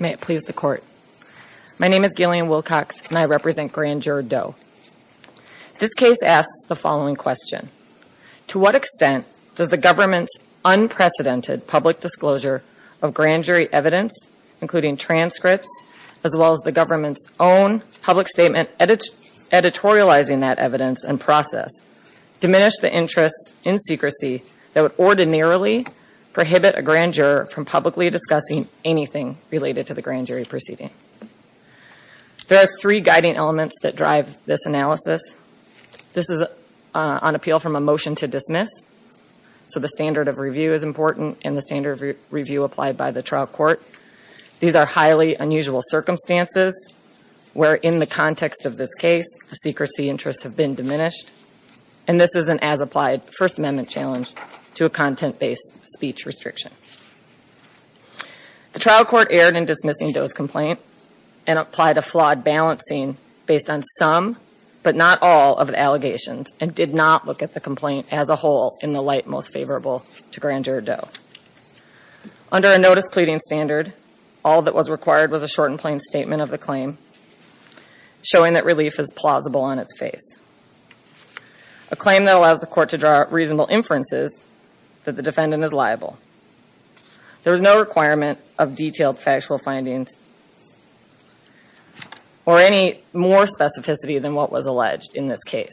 May it please the Court. My name is Gillian Wilcox and I represent Grand Juror Doe. This case asks the following question. To what extent does the government's unprecedented public disclosure of grand jury evidence, including transcripts, as well as the government's own public statement editorializing that evidence and process, diminish the interest in secrecy that would ordinarily prohibit a grand juror from publicly discussing anything related to the grand jury proceeding? There are three guiding elements that drive this analysis. This is on appeal from a motion to dismiss. So the standard of review is important and the standard of review applied by the trial court. These are highly unusual circumstances where, in the context of this case, the secrecy interests have been diminished. And this is an as-applied First Amendment challenge to a content-based speech restriction. The trial court erred in dismissing Doe's complaint and applied a flawed balancing based on some but not all of the allegations and did not look at the complaint as a whole in the light most favorable to Grand Juror Doe. Under a notice pleading standard, all that was required was a short and plain statement of the claim, showing that relief is plausible on its face. A claim that allows the court to draw reasonable inferences that the defendant is liable. There was no requirement of detailed factual findings or any more specificity than what was alleged in this case.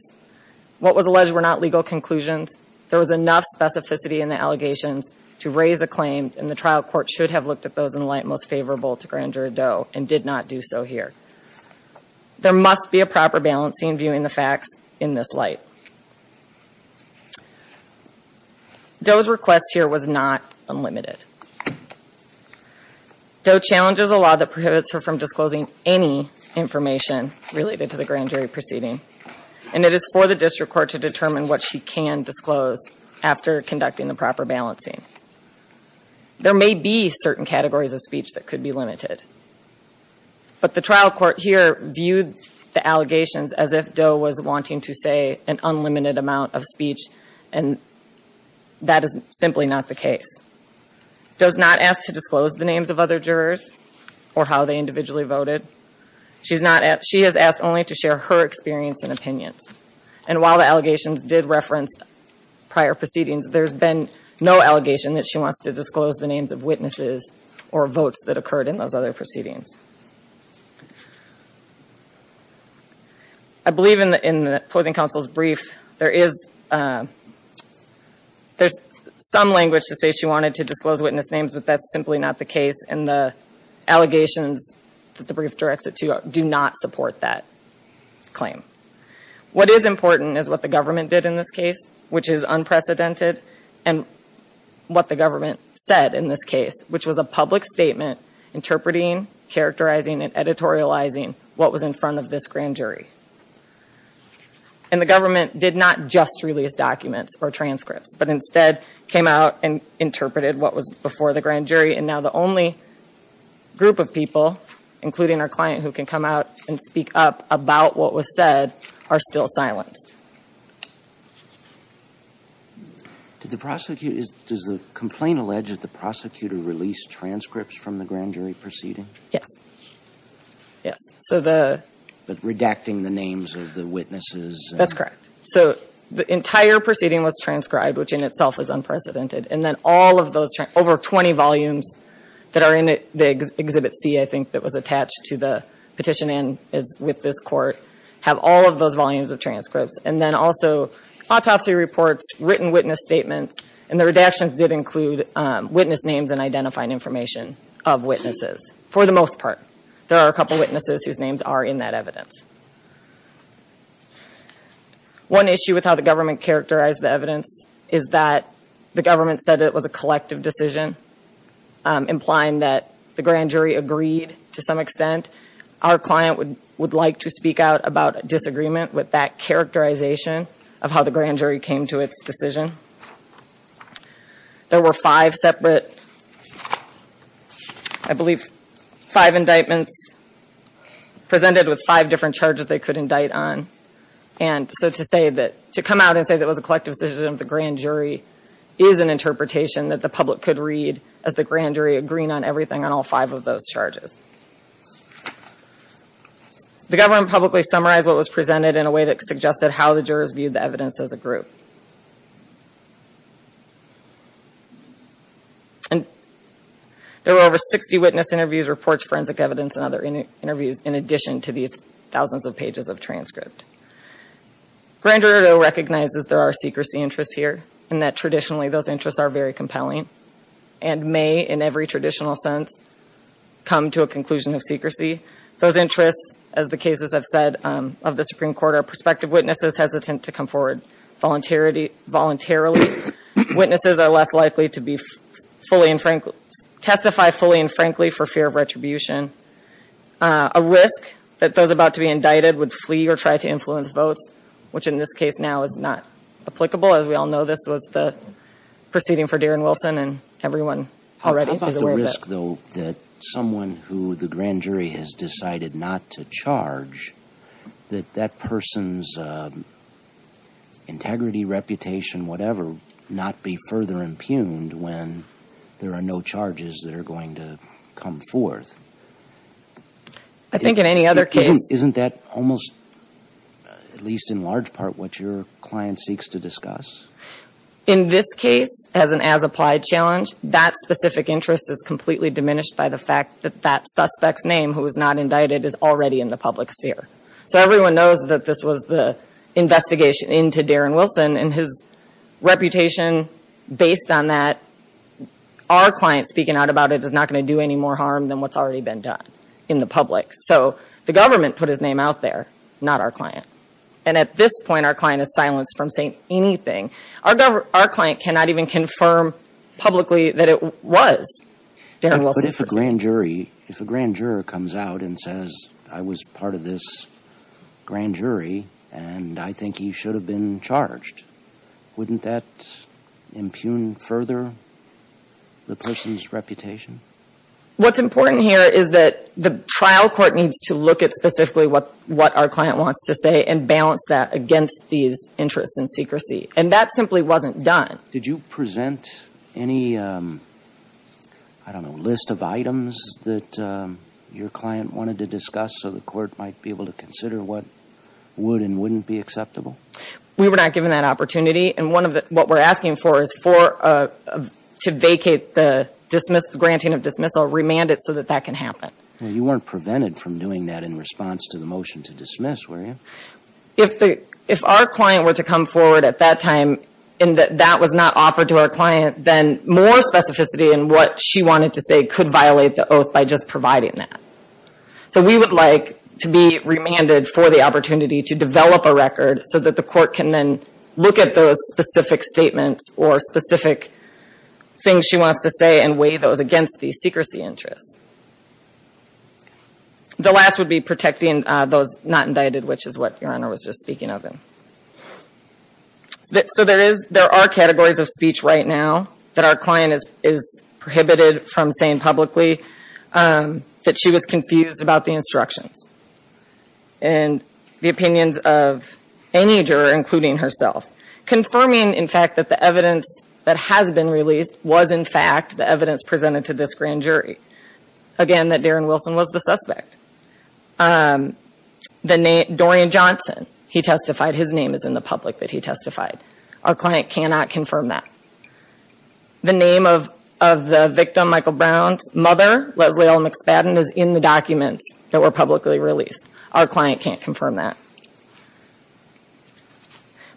What was alleged were not legal conclusions. There was enough specificity in the allegations to raise a claim, and the trial court should have looked at those in the light most favorable to Grand Juror Doe and did not do so here. There must be a proper balancing viewing the facts in this light. Doe's request here was not unlimited. Doe challenges a law that prohibits her from disclosing any information related to the grand jury proceeding. And it is for the district court to determine what she can disclose after conducting the proper balancing. There may be certain categories of speech that could be limited. But the trial court here viewed the allegations as if Doe was wanting to say an unlimited amount of speech, and that is simply not the case. Does not ask to disclose the names of other jurors or how they individually voted. She has asked only to share her experience and opinions. And while the allegations did reference prior proceedings, there's been no allegation that she wants to disclose the names of witnesses or votes that occurred in those other proceedings. I believe in the Poison Counsel's brief, there is some language to say she wanted to disclose witness names, but that's simply not the case, and the allegations that the brief directs it to do not support that claim. What is important is what the government did in this case, which is unprecedented, and what the government said in this case, which was a public statement interpreting, characterizing, and editorializing what was in front of this grand jury. And the government did not just release documents or transcripts, but instead came out and interpreted what was before the grand jury. And now the only group of people, including our client who can come out and speak up about what was said, are still silenced. Does the complaint allege that the prosecutor released transcripts from the grand jury proceeding? Yes. But redacting the names of the witnesses. That's correct. So the entire proceeding was transcribed, which in itself is unprecedented. And then all of those, over 20 volumes that are in the Exhibit C, I think, that was attached to the petition with this court, have all of those volumes of transcripts. And then also autopsy reports, written witness statements, and the redactions did include witness names and identifying information of witnesses, for the most part. There are a couple witnesses whose names are in that evidence. One issue with how the government characterized the evidence is that the government said it was a collective decision, implying that the grand jury agreed to some extent. Our client would like to speak out about a disagreement with that characterization of how the grand jury came to its decision. There were five separate, I believe, five indictments presented with five different charges they could indict on. And so to say that, to come out and say that it was a collective decision of the grand jury, is an interpretation that the public could read as the grand jury agreeing on everything on all five of those charges. The government publicly summarized what was presented in a way that suggested how the jurors viewed the evidence as a group. And there were over 60 witness interviews, reports, forensic evidence, and other interviews, in addition to these thousands of pages of transcript. Grand jury recognizes there are secrecy interests here, and that traditionally those interests are very compelling, and may, in every traditional sense, come to a conclusion of secrecy. Those interests, as the cases I've said of the Supreme Court, are prospective witnesses hesitant to come forward, voluntarily, witnesses are less likely to be fully and frankly, testify fully and frankly for fear of retribution. A risk that those about to be indicted would flee or try to influence votes, which in this case now is not applicable. As we all know, this was the proceeding for Darren Wilson, and everyone already is aware of it. I would ask, though, that someone who the grand jury has decided not to charge, that that person's integrity, reputation, whatever, not be further impugned when there are no charges that are going to come forth. I think in any other case- Isn't that almost, at least in large part, what your client seeks to discuss? In this case, as an as-applied challenge, that specific interest is completely diminished by the fact that that suspect's name, who is not indicted, is already in the public sphere. So everyone knows that this was the investigation into Darren Wilson and his reputation based on that. Our client speaking out about it is not going to do any more harm than what's already been done in the public. So the government put his name out there, not our client. And at this point, our client is silenced from saying anything. Our client cannot even confirm publicly that it was Darren Wilson. But if a grand jury comes out and says, I was part of this grand jury, and I think he should have been charged, wouldn't that impugn further the person's reputation? What's important here is that the trial court needs to look at specifically what our client wants to say and balance that against these interests and secrecy. And that simply wasn't done. Did you present any, I don't know, list of items that your client wanted to discuss so the court might be able to consider what would and wouldn't be acceptable? We were not given that opportunity. And what we're asking for is to vacate the granting of dismissal, remand it so that that can happen. You weren't prevented from doing that in response to the motion to dismiss, were you? If our client were to come forward at that time and that that was not offered to our client, then more specificity in what she wanted to say could violate the oath by just providing that. So we would like to be remanded for the opportunity to develop a record so that the court can then look at those specific statements or specific things she wants to say and weigh those against these secrecy interests. The last would be protecting those not indicted, which is what your Honor was just speaking of. So there are categories of speech right now that our client is prohibited from saying publicly that she was confused about the instructions. And the opinions of any juror, including herself. Confirming, in fact, that the evidence that has been released was, in fact, the evidence presented to this grand jury. Again, that Darren Wilson was the suspect. The name, Dorian Johnson, he testified, his name is in the public that he testified. Our client cannot confirm that. The name of the victim, Michael Brown's mother, Leslie L. McSpadden, is in the documents that were publicly released. Our client can't confirm that.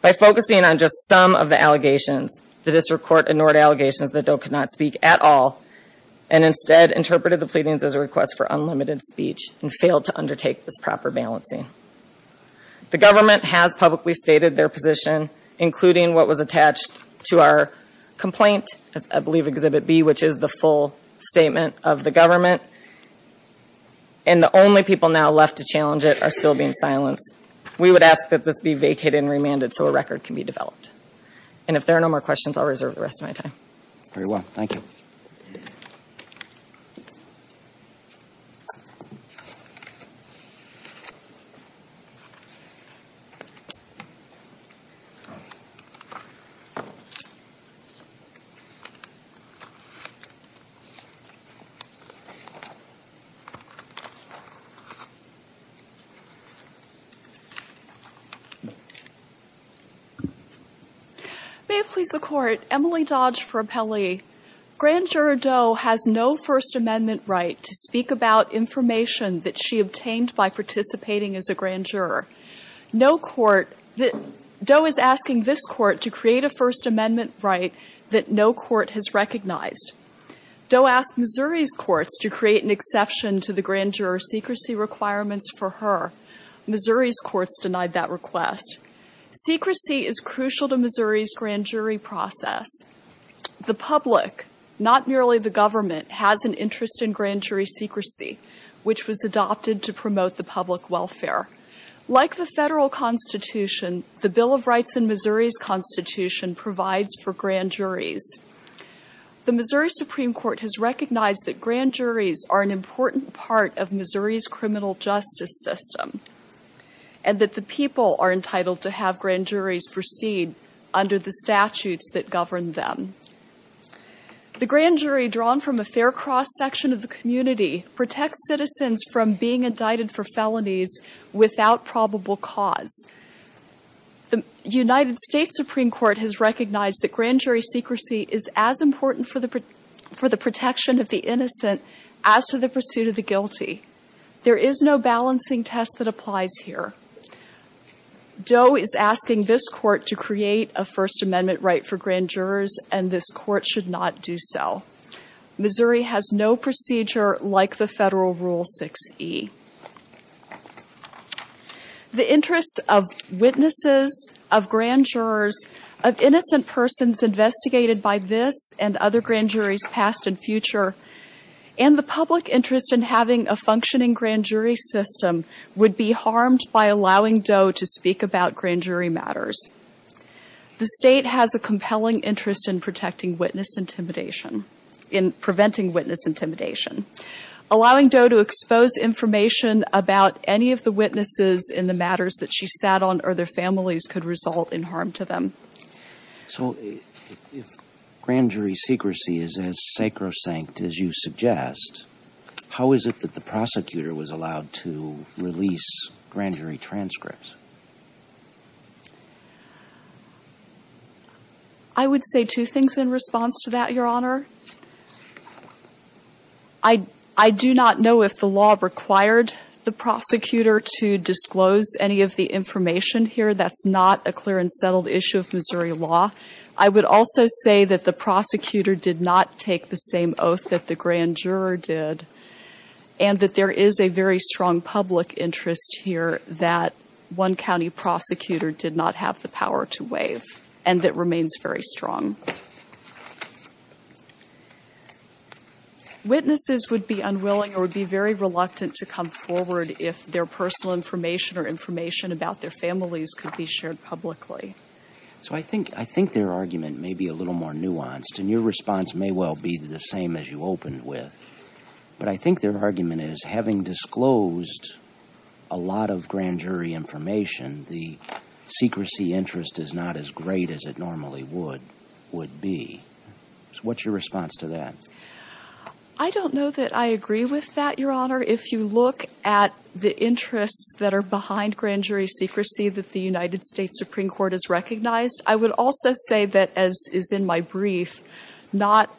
By focusing on just some of the allegations, the District Court ignored allegations that Dole could not speak at all and instead interpreted the pleadings as a request for unlimited speech and failed to undertake this proper balancing. The government has publicly stated their position, including what was attached to our complaint, I believe Exhibit B, which is the full statement of the government. And the only people now left to challenge it are still being silenced. We would ask that this be vacated and remanded so a record can be developed. And if there are no more questions, I'll reserve the rest of my time. Very well, thank you. May it please the Court, Emily Dodge for Appellee. Grand Juror Dole has no First Amendment right to speak about information that she obtained by participating as a grand juror. No court, Dole is asking this court to create a First Amendment right that no court has recognized. Dole asked Missouri's courts to create an exception to the grand juror secrecy requirements for her. Missouri's courts denied that request. Secrecy is crucial to Missouri's grand jury process. The public, not merely the government, has an interest in grand jury secrecy, which was adopted to promote the public welfare. Like the federal constitution, the Bill of Rights in Missouri's constitution provides for grand juries. The Missouri Supreme Court has recognized that grand juries are an important part of Missouri's criminal justice system. And that the people are entitled to have grand juries proceed under the statutes that govern them. The grand jury, drawn from a fair cross section of the community, protects citizens from being indicted for felonies without probable cause. The United States Supreme Court has recognized that grand jury secrecy is as important for the protection of the innocent as for the pursuit of the guilty. There is no balancing test that applies here. Dole is asking this court to create a First Amendment right for grand jurors, and this court should not do so. Missouri has no procedure like the federal Rule 6e. The interests of witnesses, of grand jurors, of innocent persons investigated by this and other grand juries past and future, and the public interest in having a functioning grand jury system would be harmed by allowing Dole to speak about grand jury matters. The state has a compelling interest in protecting witness intimidation, in preventing witness intimidation. Allowing Dole to expose information about any of the witnesses in the matters that she sat on or their families could result in harm to them. So if grand jury secrecy is as sacrosanct as you suggest, how is it that the prosecutor was allowed to release grand jury transcripts? I would say two things in response to that, Your Honor. I do not know if the law required the prosecutor to disclose any of the information here. That's not a clear and settled issue of Missouri law. I would also say that the prosecutor did not take the same oath that the grand juror did, and that there is a very strong public interest here that one county prosecutor did not have the power to waive, and that remains very strong. Witnesses would be unwilling or be very reluctant to come forward if their personal information or information about their families could be shared publicly. So I think their argument may be a little more nuanced, and your response may well be the same as you opened with. But I think their argument is, having disclosed a lot of grand jury information, the secrecy interest is not as great as it normally would be. So what's your response to that? I don't know that I agree with that, Your Honor. If you look at the interests that are behind grand jury secrecy that the United States Supreme Court has recognized, I would also say that, as is in my brief, not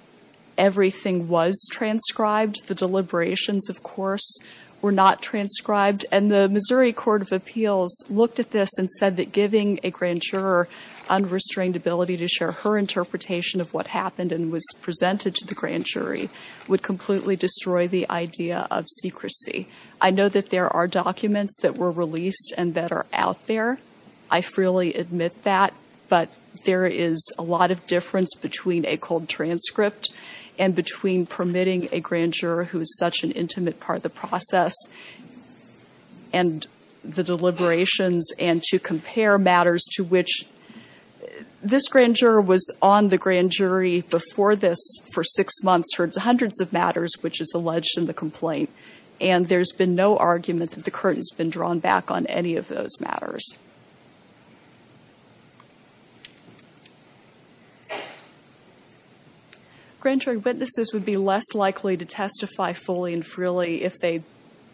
everything was transcribed. The deliberations, of course, were not transcribed. And the Missouri Court of Appeals looked at this and said that giving a grand juror unrestrained ability to share her interpretation of what happened and was presented to the grand jury would completely destroy the idea of secrecy. I know that there are documents that were released and that are out there. I freely admit that, but there is a lot of difference between a cold transcript and between permitting a grand juror who is such an intimate part of the process and the deliberations and to compare matters to which this grand juror was on the grand jury before this for six months heard hundreds of matters which is alleged in the complaint. And there's been no argument that the curtain's been drawn back on any of those matters. Grand jury witnesses would be less likely to testify fully and freely if they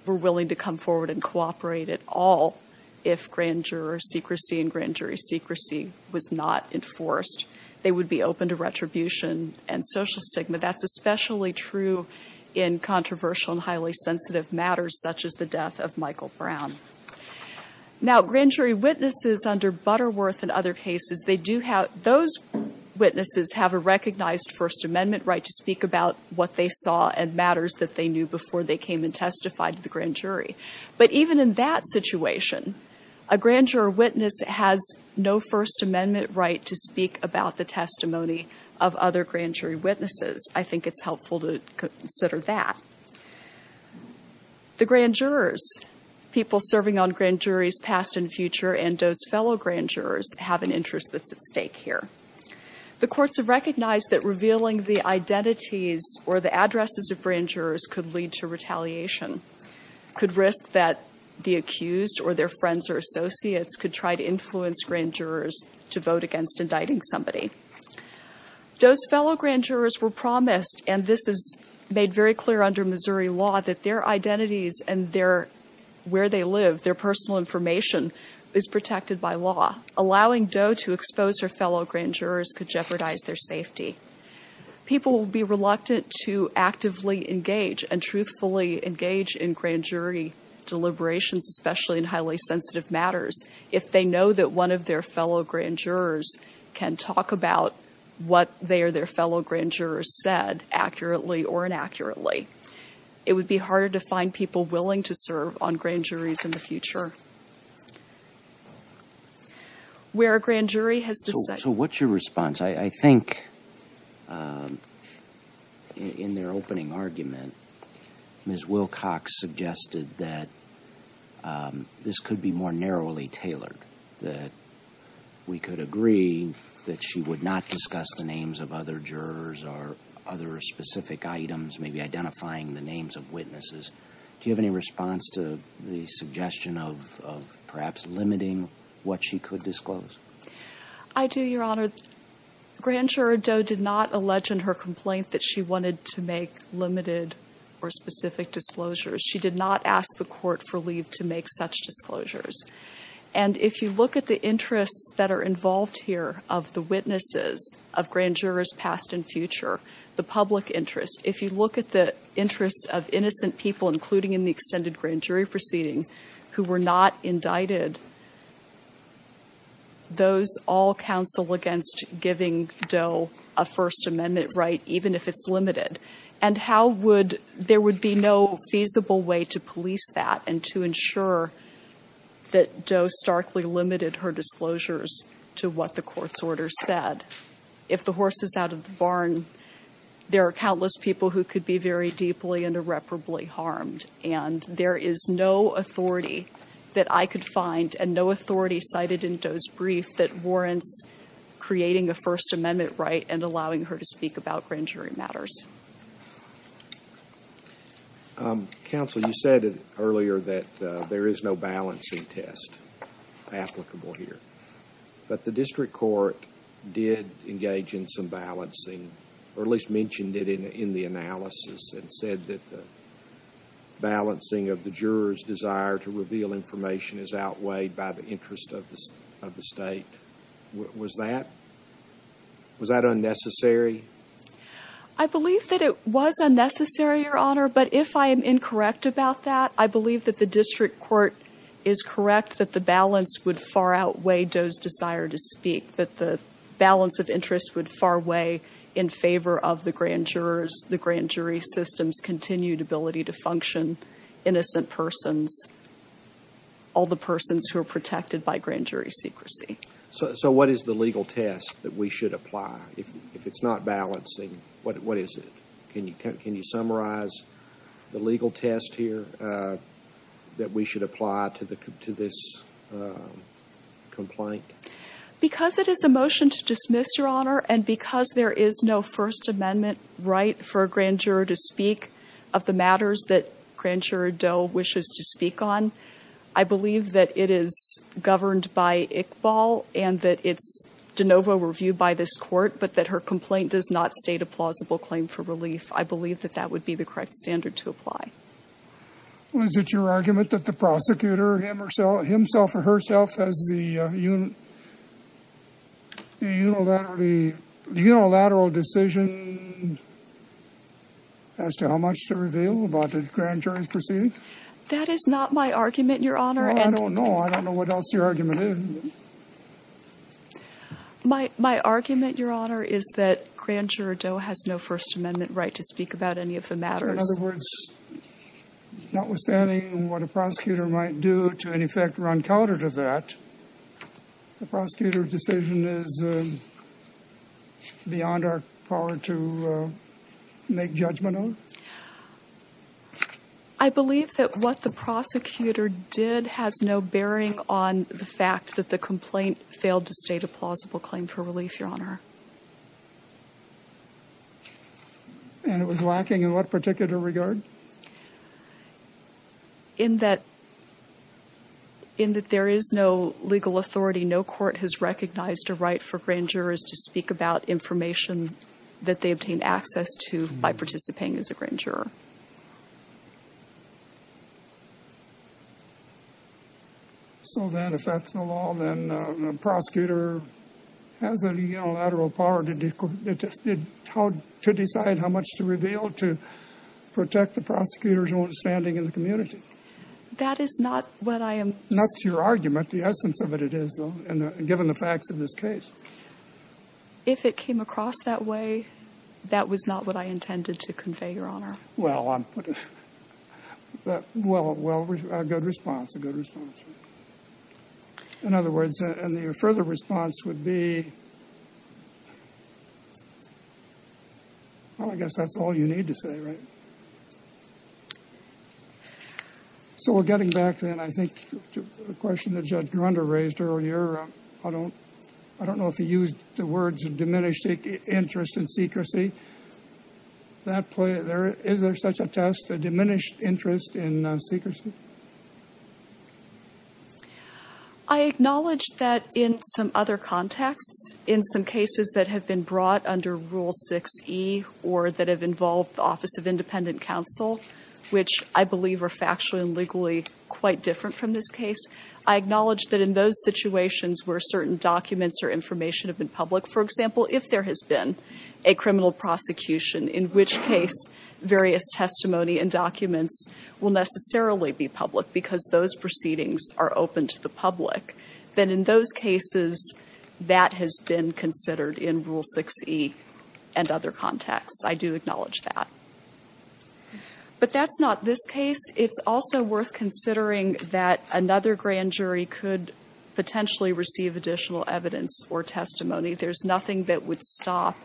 were willing to come forward and cooperate at all if grand juror secrecy and grand jury secrecy was not enforced. They would be open to retribution and social stigma. That's especially true in controversial and highly sensitive matters such as the death of Michael Brown. Now grand jury witnesses under Butterworth and other cases, those witnesses have a recognized First Amendment right to speak about what they saw and matters that they knew before they came and testified to the grand jury. But even in that situation, a grand juror witness has no First Amendment right to speak about the testimony of other grand jury witnesses. I think it's helpful to consider that. The grand jurors, people serving on grand juries past and future, and those fellow grand jurors have an interest that's at stake here. The courts have recognized that revealing the identities or the addresses of grand jurors could lead to retaliation, could risk that the accused or their friends or associates could try to influence grand jurors to vote against indicting somebody. Doe's fellow grand jurors were promised, and this is made very clear under Missouri law, that their identities and where they live, their personal information, is protected by law. Allowing Doe to expose her fellow grand jurors could jeopardize their safety. People will be reluctant to actively engage and truthfully engage in grand jury deliberations, especially in highly sensitive matters. If they know that one of their fellow grand jurors can talk about what they or their fellow grand jurors said, accurately or inaccurately, it would be harder to find people willing to serve on grand juries in the future. So what's your response? I think in their opening argument, Ms. Wilcox suggested that this could be more narrowly tailored, that we could agree that she would not discuss the names of other jurors or other specific items, maybe identifying the names of witnesses. Do you have any response to the suggestion of perhaps limiting what she could disclose? I do, Your Honor. Grand Juror Doe did not allege in her complaint that she wanted to make limited or specific disclosures. She did not ask the court for leave to make such disclosures. And if you look at the interests that are involved here of the witnesses of grand jurors past and future, the public interest, if you look at the interests of innocent people, including in the extended grand jury proceeding, who were not indicted, those all counsel against giving Doe a First Amendment right, even if it's limited. And how would – there would be no feasible way to police that and to ensure that Doe starkly limited her disclosures to what the court's order said. If the horse is out of the barn, there are countless people who could be very deeply and irreparably harmed. And there is no authority that I could find and no authority cited in Doe's brief that warrants creating a First Amendment right and allowing her to speak about grand jury matters. Counsel, you said earlier that there is no balancing test applicable here. But the district court did engage in some balancing, or at least mentioned it in the analysis and said that the balancing of the juror's desire to reveal information is outweighed by the interest of the state. Was that unnecessary? I believe that it was unnecessary, Your Honor, but if I am incorrect about that, I believe that the district court is correct that the balance would far outweigh Doe's desire to speak, that the balance of interest would far weigh in favor of the grand jurors, the grand jury system's continued ability to function, innocent persons, all the persons who are protected by grand jury secrecy. So what is the legal test that we should apply? If it's not balancing, what is it? Can you summarize the legal test here that we should apply to this complaint? Because it is a motion to dismiss, Your Honor, and because there is no First Amendment right for a grand juror to speak of the matters that grand juror Doe wishes to speak on, I believe that it is governed by Iqbal and that it's de novo reviewed by this court, but that her complaint does not state a plausible claim for relief. I believe that that would be the correct standard to apply. Was it your argument that the prosecutor himself or herself has the unilateral decision as to how much to reveal about the grand jury's proceeding? That is not my argument, Your Honor. Well, I don't know. I don't know what else your argument is. My argument, Your Honor, is that grand juror Doe has no First Amendment right to speak about any of the matters. In other words, notwithstanding what a prosecutor might do to any effect run counter to that, the prosecutor's decision is beyond our power to make judgment on? I believe that what the prosecutor did has no bearing on the fact that the complaint failed to state a plausible claim for relief, Your Honor. And it was lacking in what particular regard? In that there is no legal authority, no court has recognized a right for grand jurors to speak about information that they obtain access to by participating as a grand juror. So then, if that's the law, then the prosecutor has the unilateral power to decide how much to reveal to protect the prosecutor's own standing in the community? That is not what I am saying. That's your argument. The essence of it is, though, given the facts of this case. If it came across that way, that was not what I intended to convey, Your Honor. Well, a good response, a good response. In other words, and the further response would be, well, I guess that's all you need to say, right? So we're getting back to the question that Judge Grunder raised earlier. I don't know if he used the words diminished interest in secrecy. Is there such a test, a diminished interest in secrecy? I acknowledge that in some other contexts, in some cases that have been brought under Rule 6E or that have involved the Office of Independent Counsel, which I believe are factually and legally quite different from this case, I acknowledge that in those situations where certain documents or information have been public, for example, if there has been a criminal prosecution, in which case various testimony and documents will necessarily be public because those proceedings are open to the public, then in those cases that has been considered in Rule 6E and other contexts. I do acknowledge that. But that's not this case. It's also worth considering that another grand jury could potentially receive additional evidence or testimony. There's nothing that would stop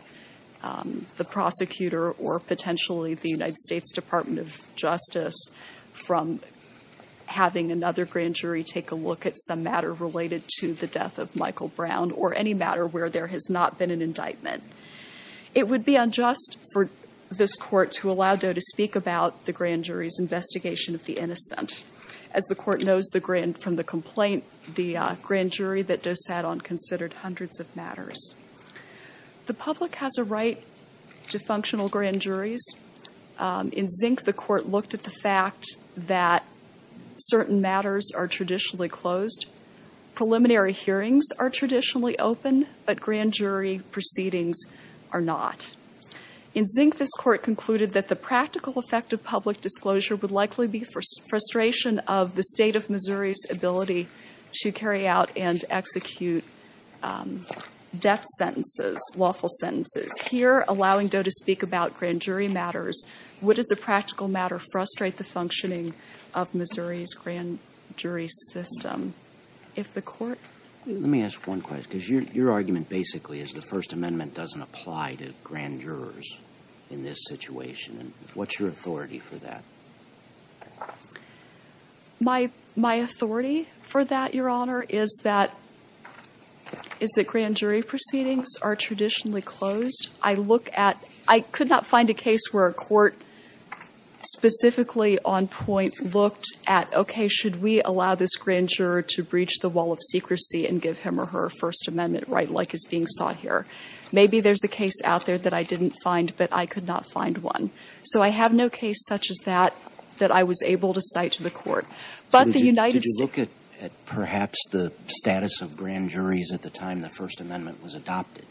the prosecutor or potentially the United States Department of Justice from having another grand jury take a look at some matter related to the death of Michael Brown or any matter where there has not been an indictment. It would be unjust for this court to allow Doe to speak about the grand jury's investigation of the innocent. As the court knows from the complaint, the grand jury that Doe sat on considered hundreds of matters. The public has a right to functional grand juries. In Zink, the court looked at the fact that certain matters are traditionally closed. Preliminary hearings are traditionally open, but grand jury proceedings are not. In Zink, this court concluded that the practical effect of public disclosure would likely be frustration of the State of Missouri's ability to carry out and execute death sentences, lawful sentences. Here, allowing Doe to speak about grand jury matters, what is a practical matter frustrate the functioning of Missouri's grand jury system? Let me ask one question. Your argument basically is the First Amendment doesn't apply to grand jurors in this situation. What's your authority for that? My authority for that, Your Honor, is that grand jury proceedings are traditionally closed. I look at—I could not find a case where a court specifically on point looked at, okay, should we allow this grand juror to breach the wall of secrecy and give him or her a First Amendment right like is being sought here? Maybe there's a case out there that I didn't find, but I could not find one. So I have no case such as that that I was able to cite to the court. But the United States— Did you look at perhaps the status of grand juries at the time the First Amendment was adopted?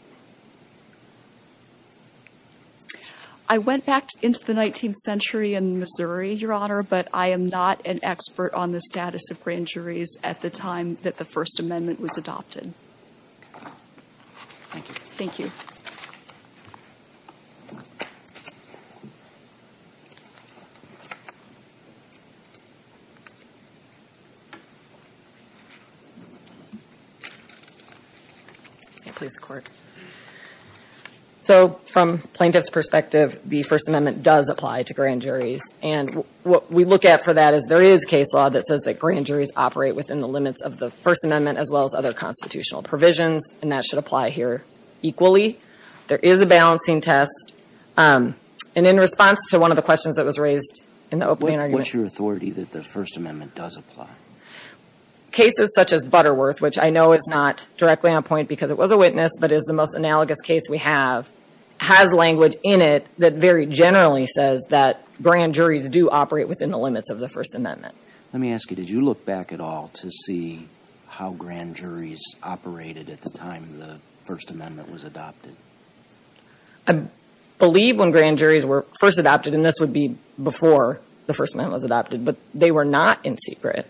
I went back into the 19th century in Missouri, Your Honor, but I am not an expert on the status of grand juries at the time that the First Amendment was adopted. Thank you. Thank you. Thank you. Please, the Court. So from plaintiff's perspective, the First Amendment does apply to grand juries. And what we look at for that is there is case law that says that grand juries operate within the limits of the First Amendment as well as other constitutional provisions, and that should apply here equally. There is a balancing test. And in response to one of the questions that was raised in the opening argument— What's your authority that the First Amendment does apply? Cases such as Butterworth, which I know is not directly on point because it was a witness but is the most analogous case we have, has language in it that very generally says that grand juries do operate within the limits of the First Amendment. Let me ask you, did you look back at all to see how grand juries operated at the time the First Amendment was adopted? I believe when grand juries were first adopted, and this would be before the First Amendment was adopted, but they were not in secret,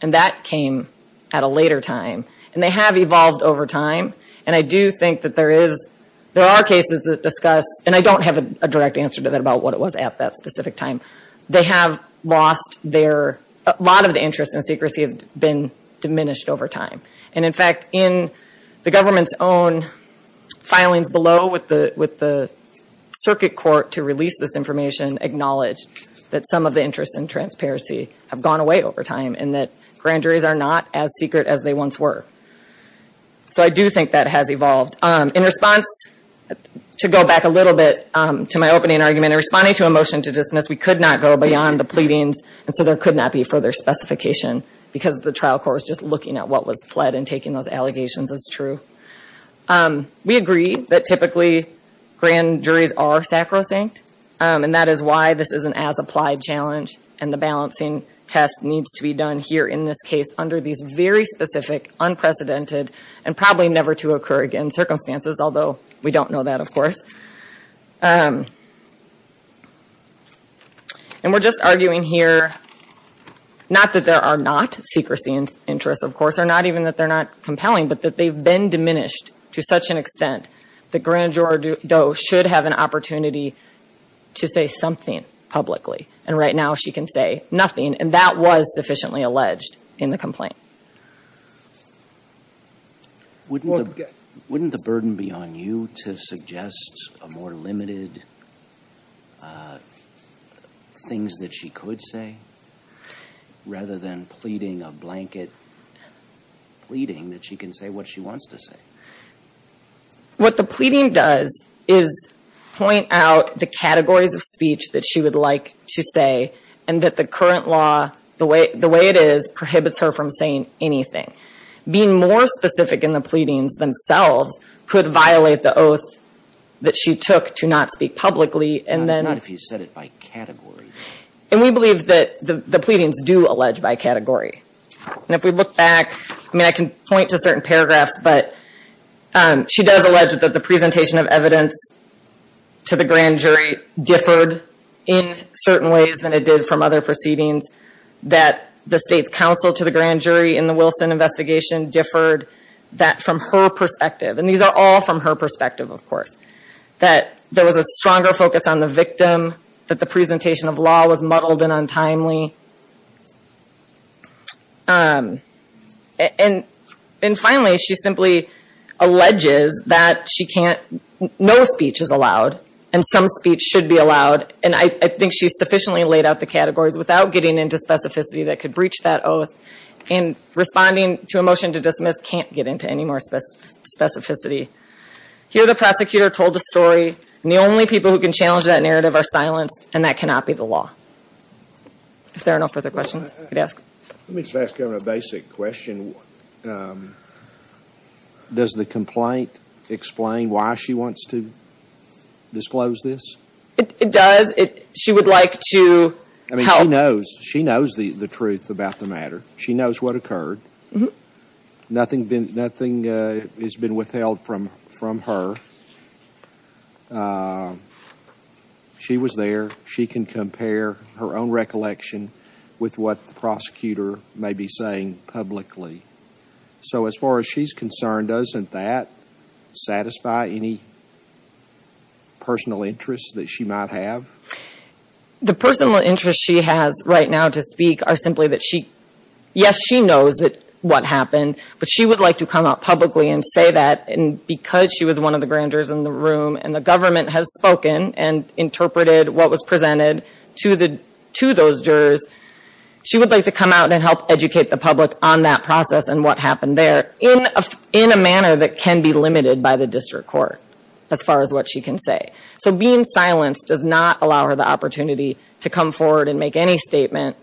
and that came at a later time. And they have evolved over time. And I do think that there is—there are cases that discuss— and I don't have a direct answer to that about what it was at that specific time. They have lost their—a lot of the interest in secrecy have been diminished over time. And in fact, in the government's own filings below with the circuit court to release this information, acknowledged that some of the interest in transparency have gone away over time and that grand juries are not as secret as they once were. So I do think that has evolved. In response, to go back a little bit to my opening argument, in responding to a motion to dismiss, we could not go beyond the pleadings, and so there could not be further specification because the trial court was just looking at what was pled and taking those allegations as true. We agree that typically grand juries are sacrosanct, and that is why this is an as-applied challenge and the balancing test needs to be done here in this case under these very specific, unprecedented, and probably never-to-occur-again circumstances, and we're just arguing here not that there are not secrecy interests, of course, or not even that they're not compelling, but that they've been diminished to such an extent that Grand Jury Doe should have an opportunity to say something publicly, and right now she can say nothing, and that was sufficiently alleged in the complaint. Wouldn't the burden be on you to suggest more limited things that she could say, rather than pleading a blanket pleading that she can say what she wants to say? What the pleading does is point out the categories of speech that she would like to say, and that the current law, the way it is, prohibits her from saying anything. Being more specific in the pleadings themselves could violate the oath that she took to not speak publicly, and then... And we believe that the pleadings do allege by category, and if we look back, I mean, I can point to certain paragraphs, but she does allege that the presentation of evidence to the grand jury differed in certain ways than it did from other proceedings, that the state's counsel to the grand jury in the Wilson investigation differed, that from her perspective, and these are all from her perspective, of course, that there was a stronger focus on the victim, that the presentation of law was muddled and untimely. And finally, she simply alleges that she can't... And some speech should be allowed, and I think she's sufficiently laid out the categories without getting into specificity that could breach that oath, and responding to a motion to dismiss can't get into any more specificity. Here the prosecutor told a story, and the only people who can challenge that narrative are silenced, and that cannot be the law. If there are no further questions, I'd ask... Let me just ask a basic question. Does the complaint explain why she wants to disclose this? It does. She would like to help... I mean, she knows the truth about the matter. She knows what occurred. Nothing has been withheld from her. She was there. She can compare her own recollection with what the prosecutor may be saying publicly. So as far as she's concerned, doesn't that satisfy any personal interests that she might have? The personal interests she has right now to speak are simply that she... But she would like to come out publicly and say that because she was one of the grand jurors in the room and the government has spoken and interpreted what was presented to those jurors, she would like to come out and help educate the public on that process and what happened there in a manner that can be limited by the district court, as far as what she can say. So being silenced does not allow her the opportunity to come forward and make any statement,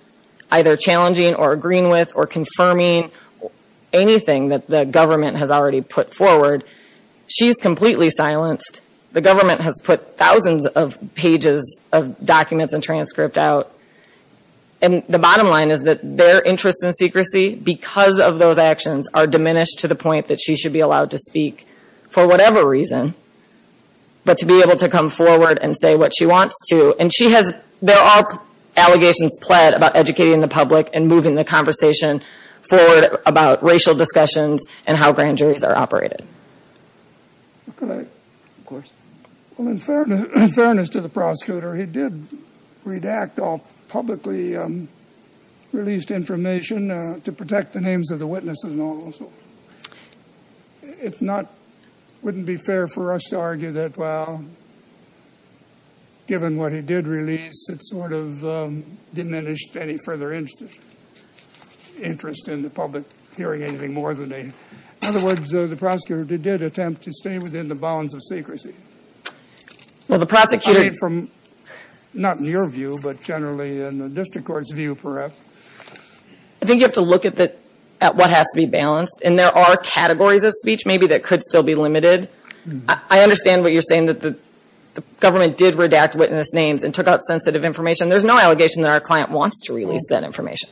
either challenging or agreeing with or confirming anything that the government has already put forward. She's completely silenced. The government has put thousands of pages of documents and transcript out. And the bottom line is that their interest in secrecy, because of those actions, are diminished to the point that she should be allowed to speak for whatever reason, but to be able to come forward and say what she wants to. And she has... There are allegations pled about educating the public and moving the conversation forward about racial discussions and how grand juries are operated. In fairness to the prosecutor, he did redact all publicly released information to protect the names of the witnesses. It wouldn't be fair for us to argue that, well, given what he did release, it sort of diminished any further interest in the public hearing anything more than a... In other words, the prosecutor did attempt to stay within the bounds of secrecy. Not in your view, but generally in the district court's view, perhaps. I think you have to look at what has to be balanced. And there are categories of speech, maybe, that could still be limited. I understand what you're saying, that the government did redact witness names and took out sensitive information. There's no allegation that our client wants to release that information.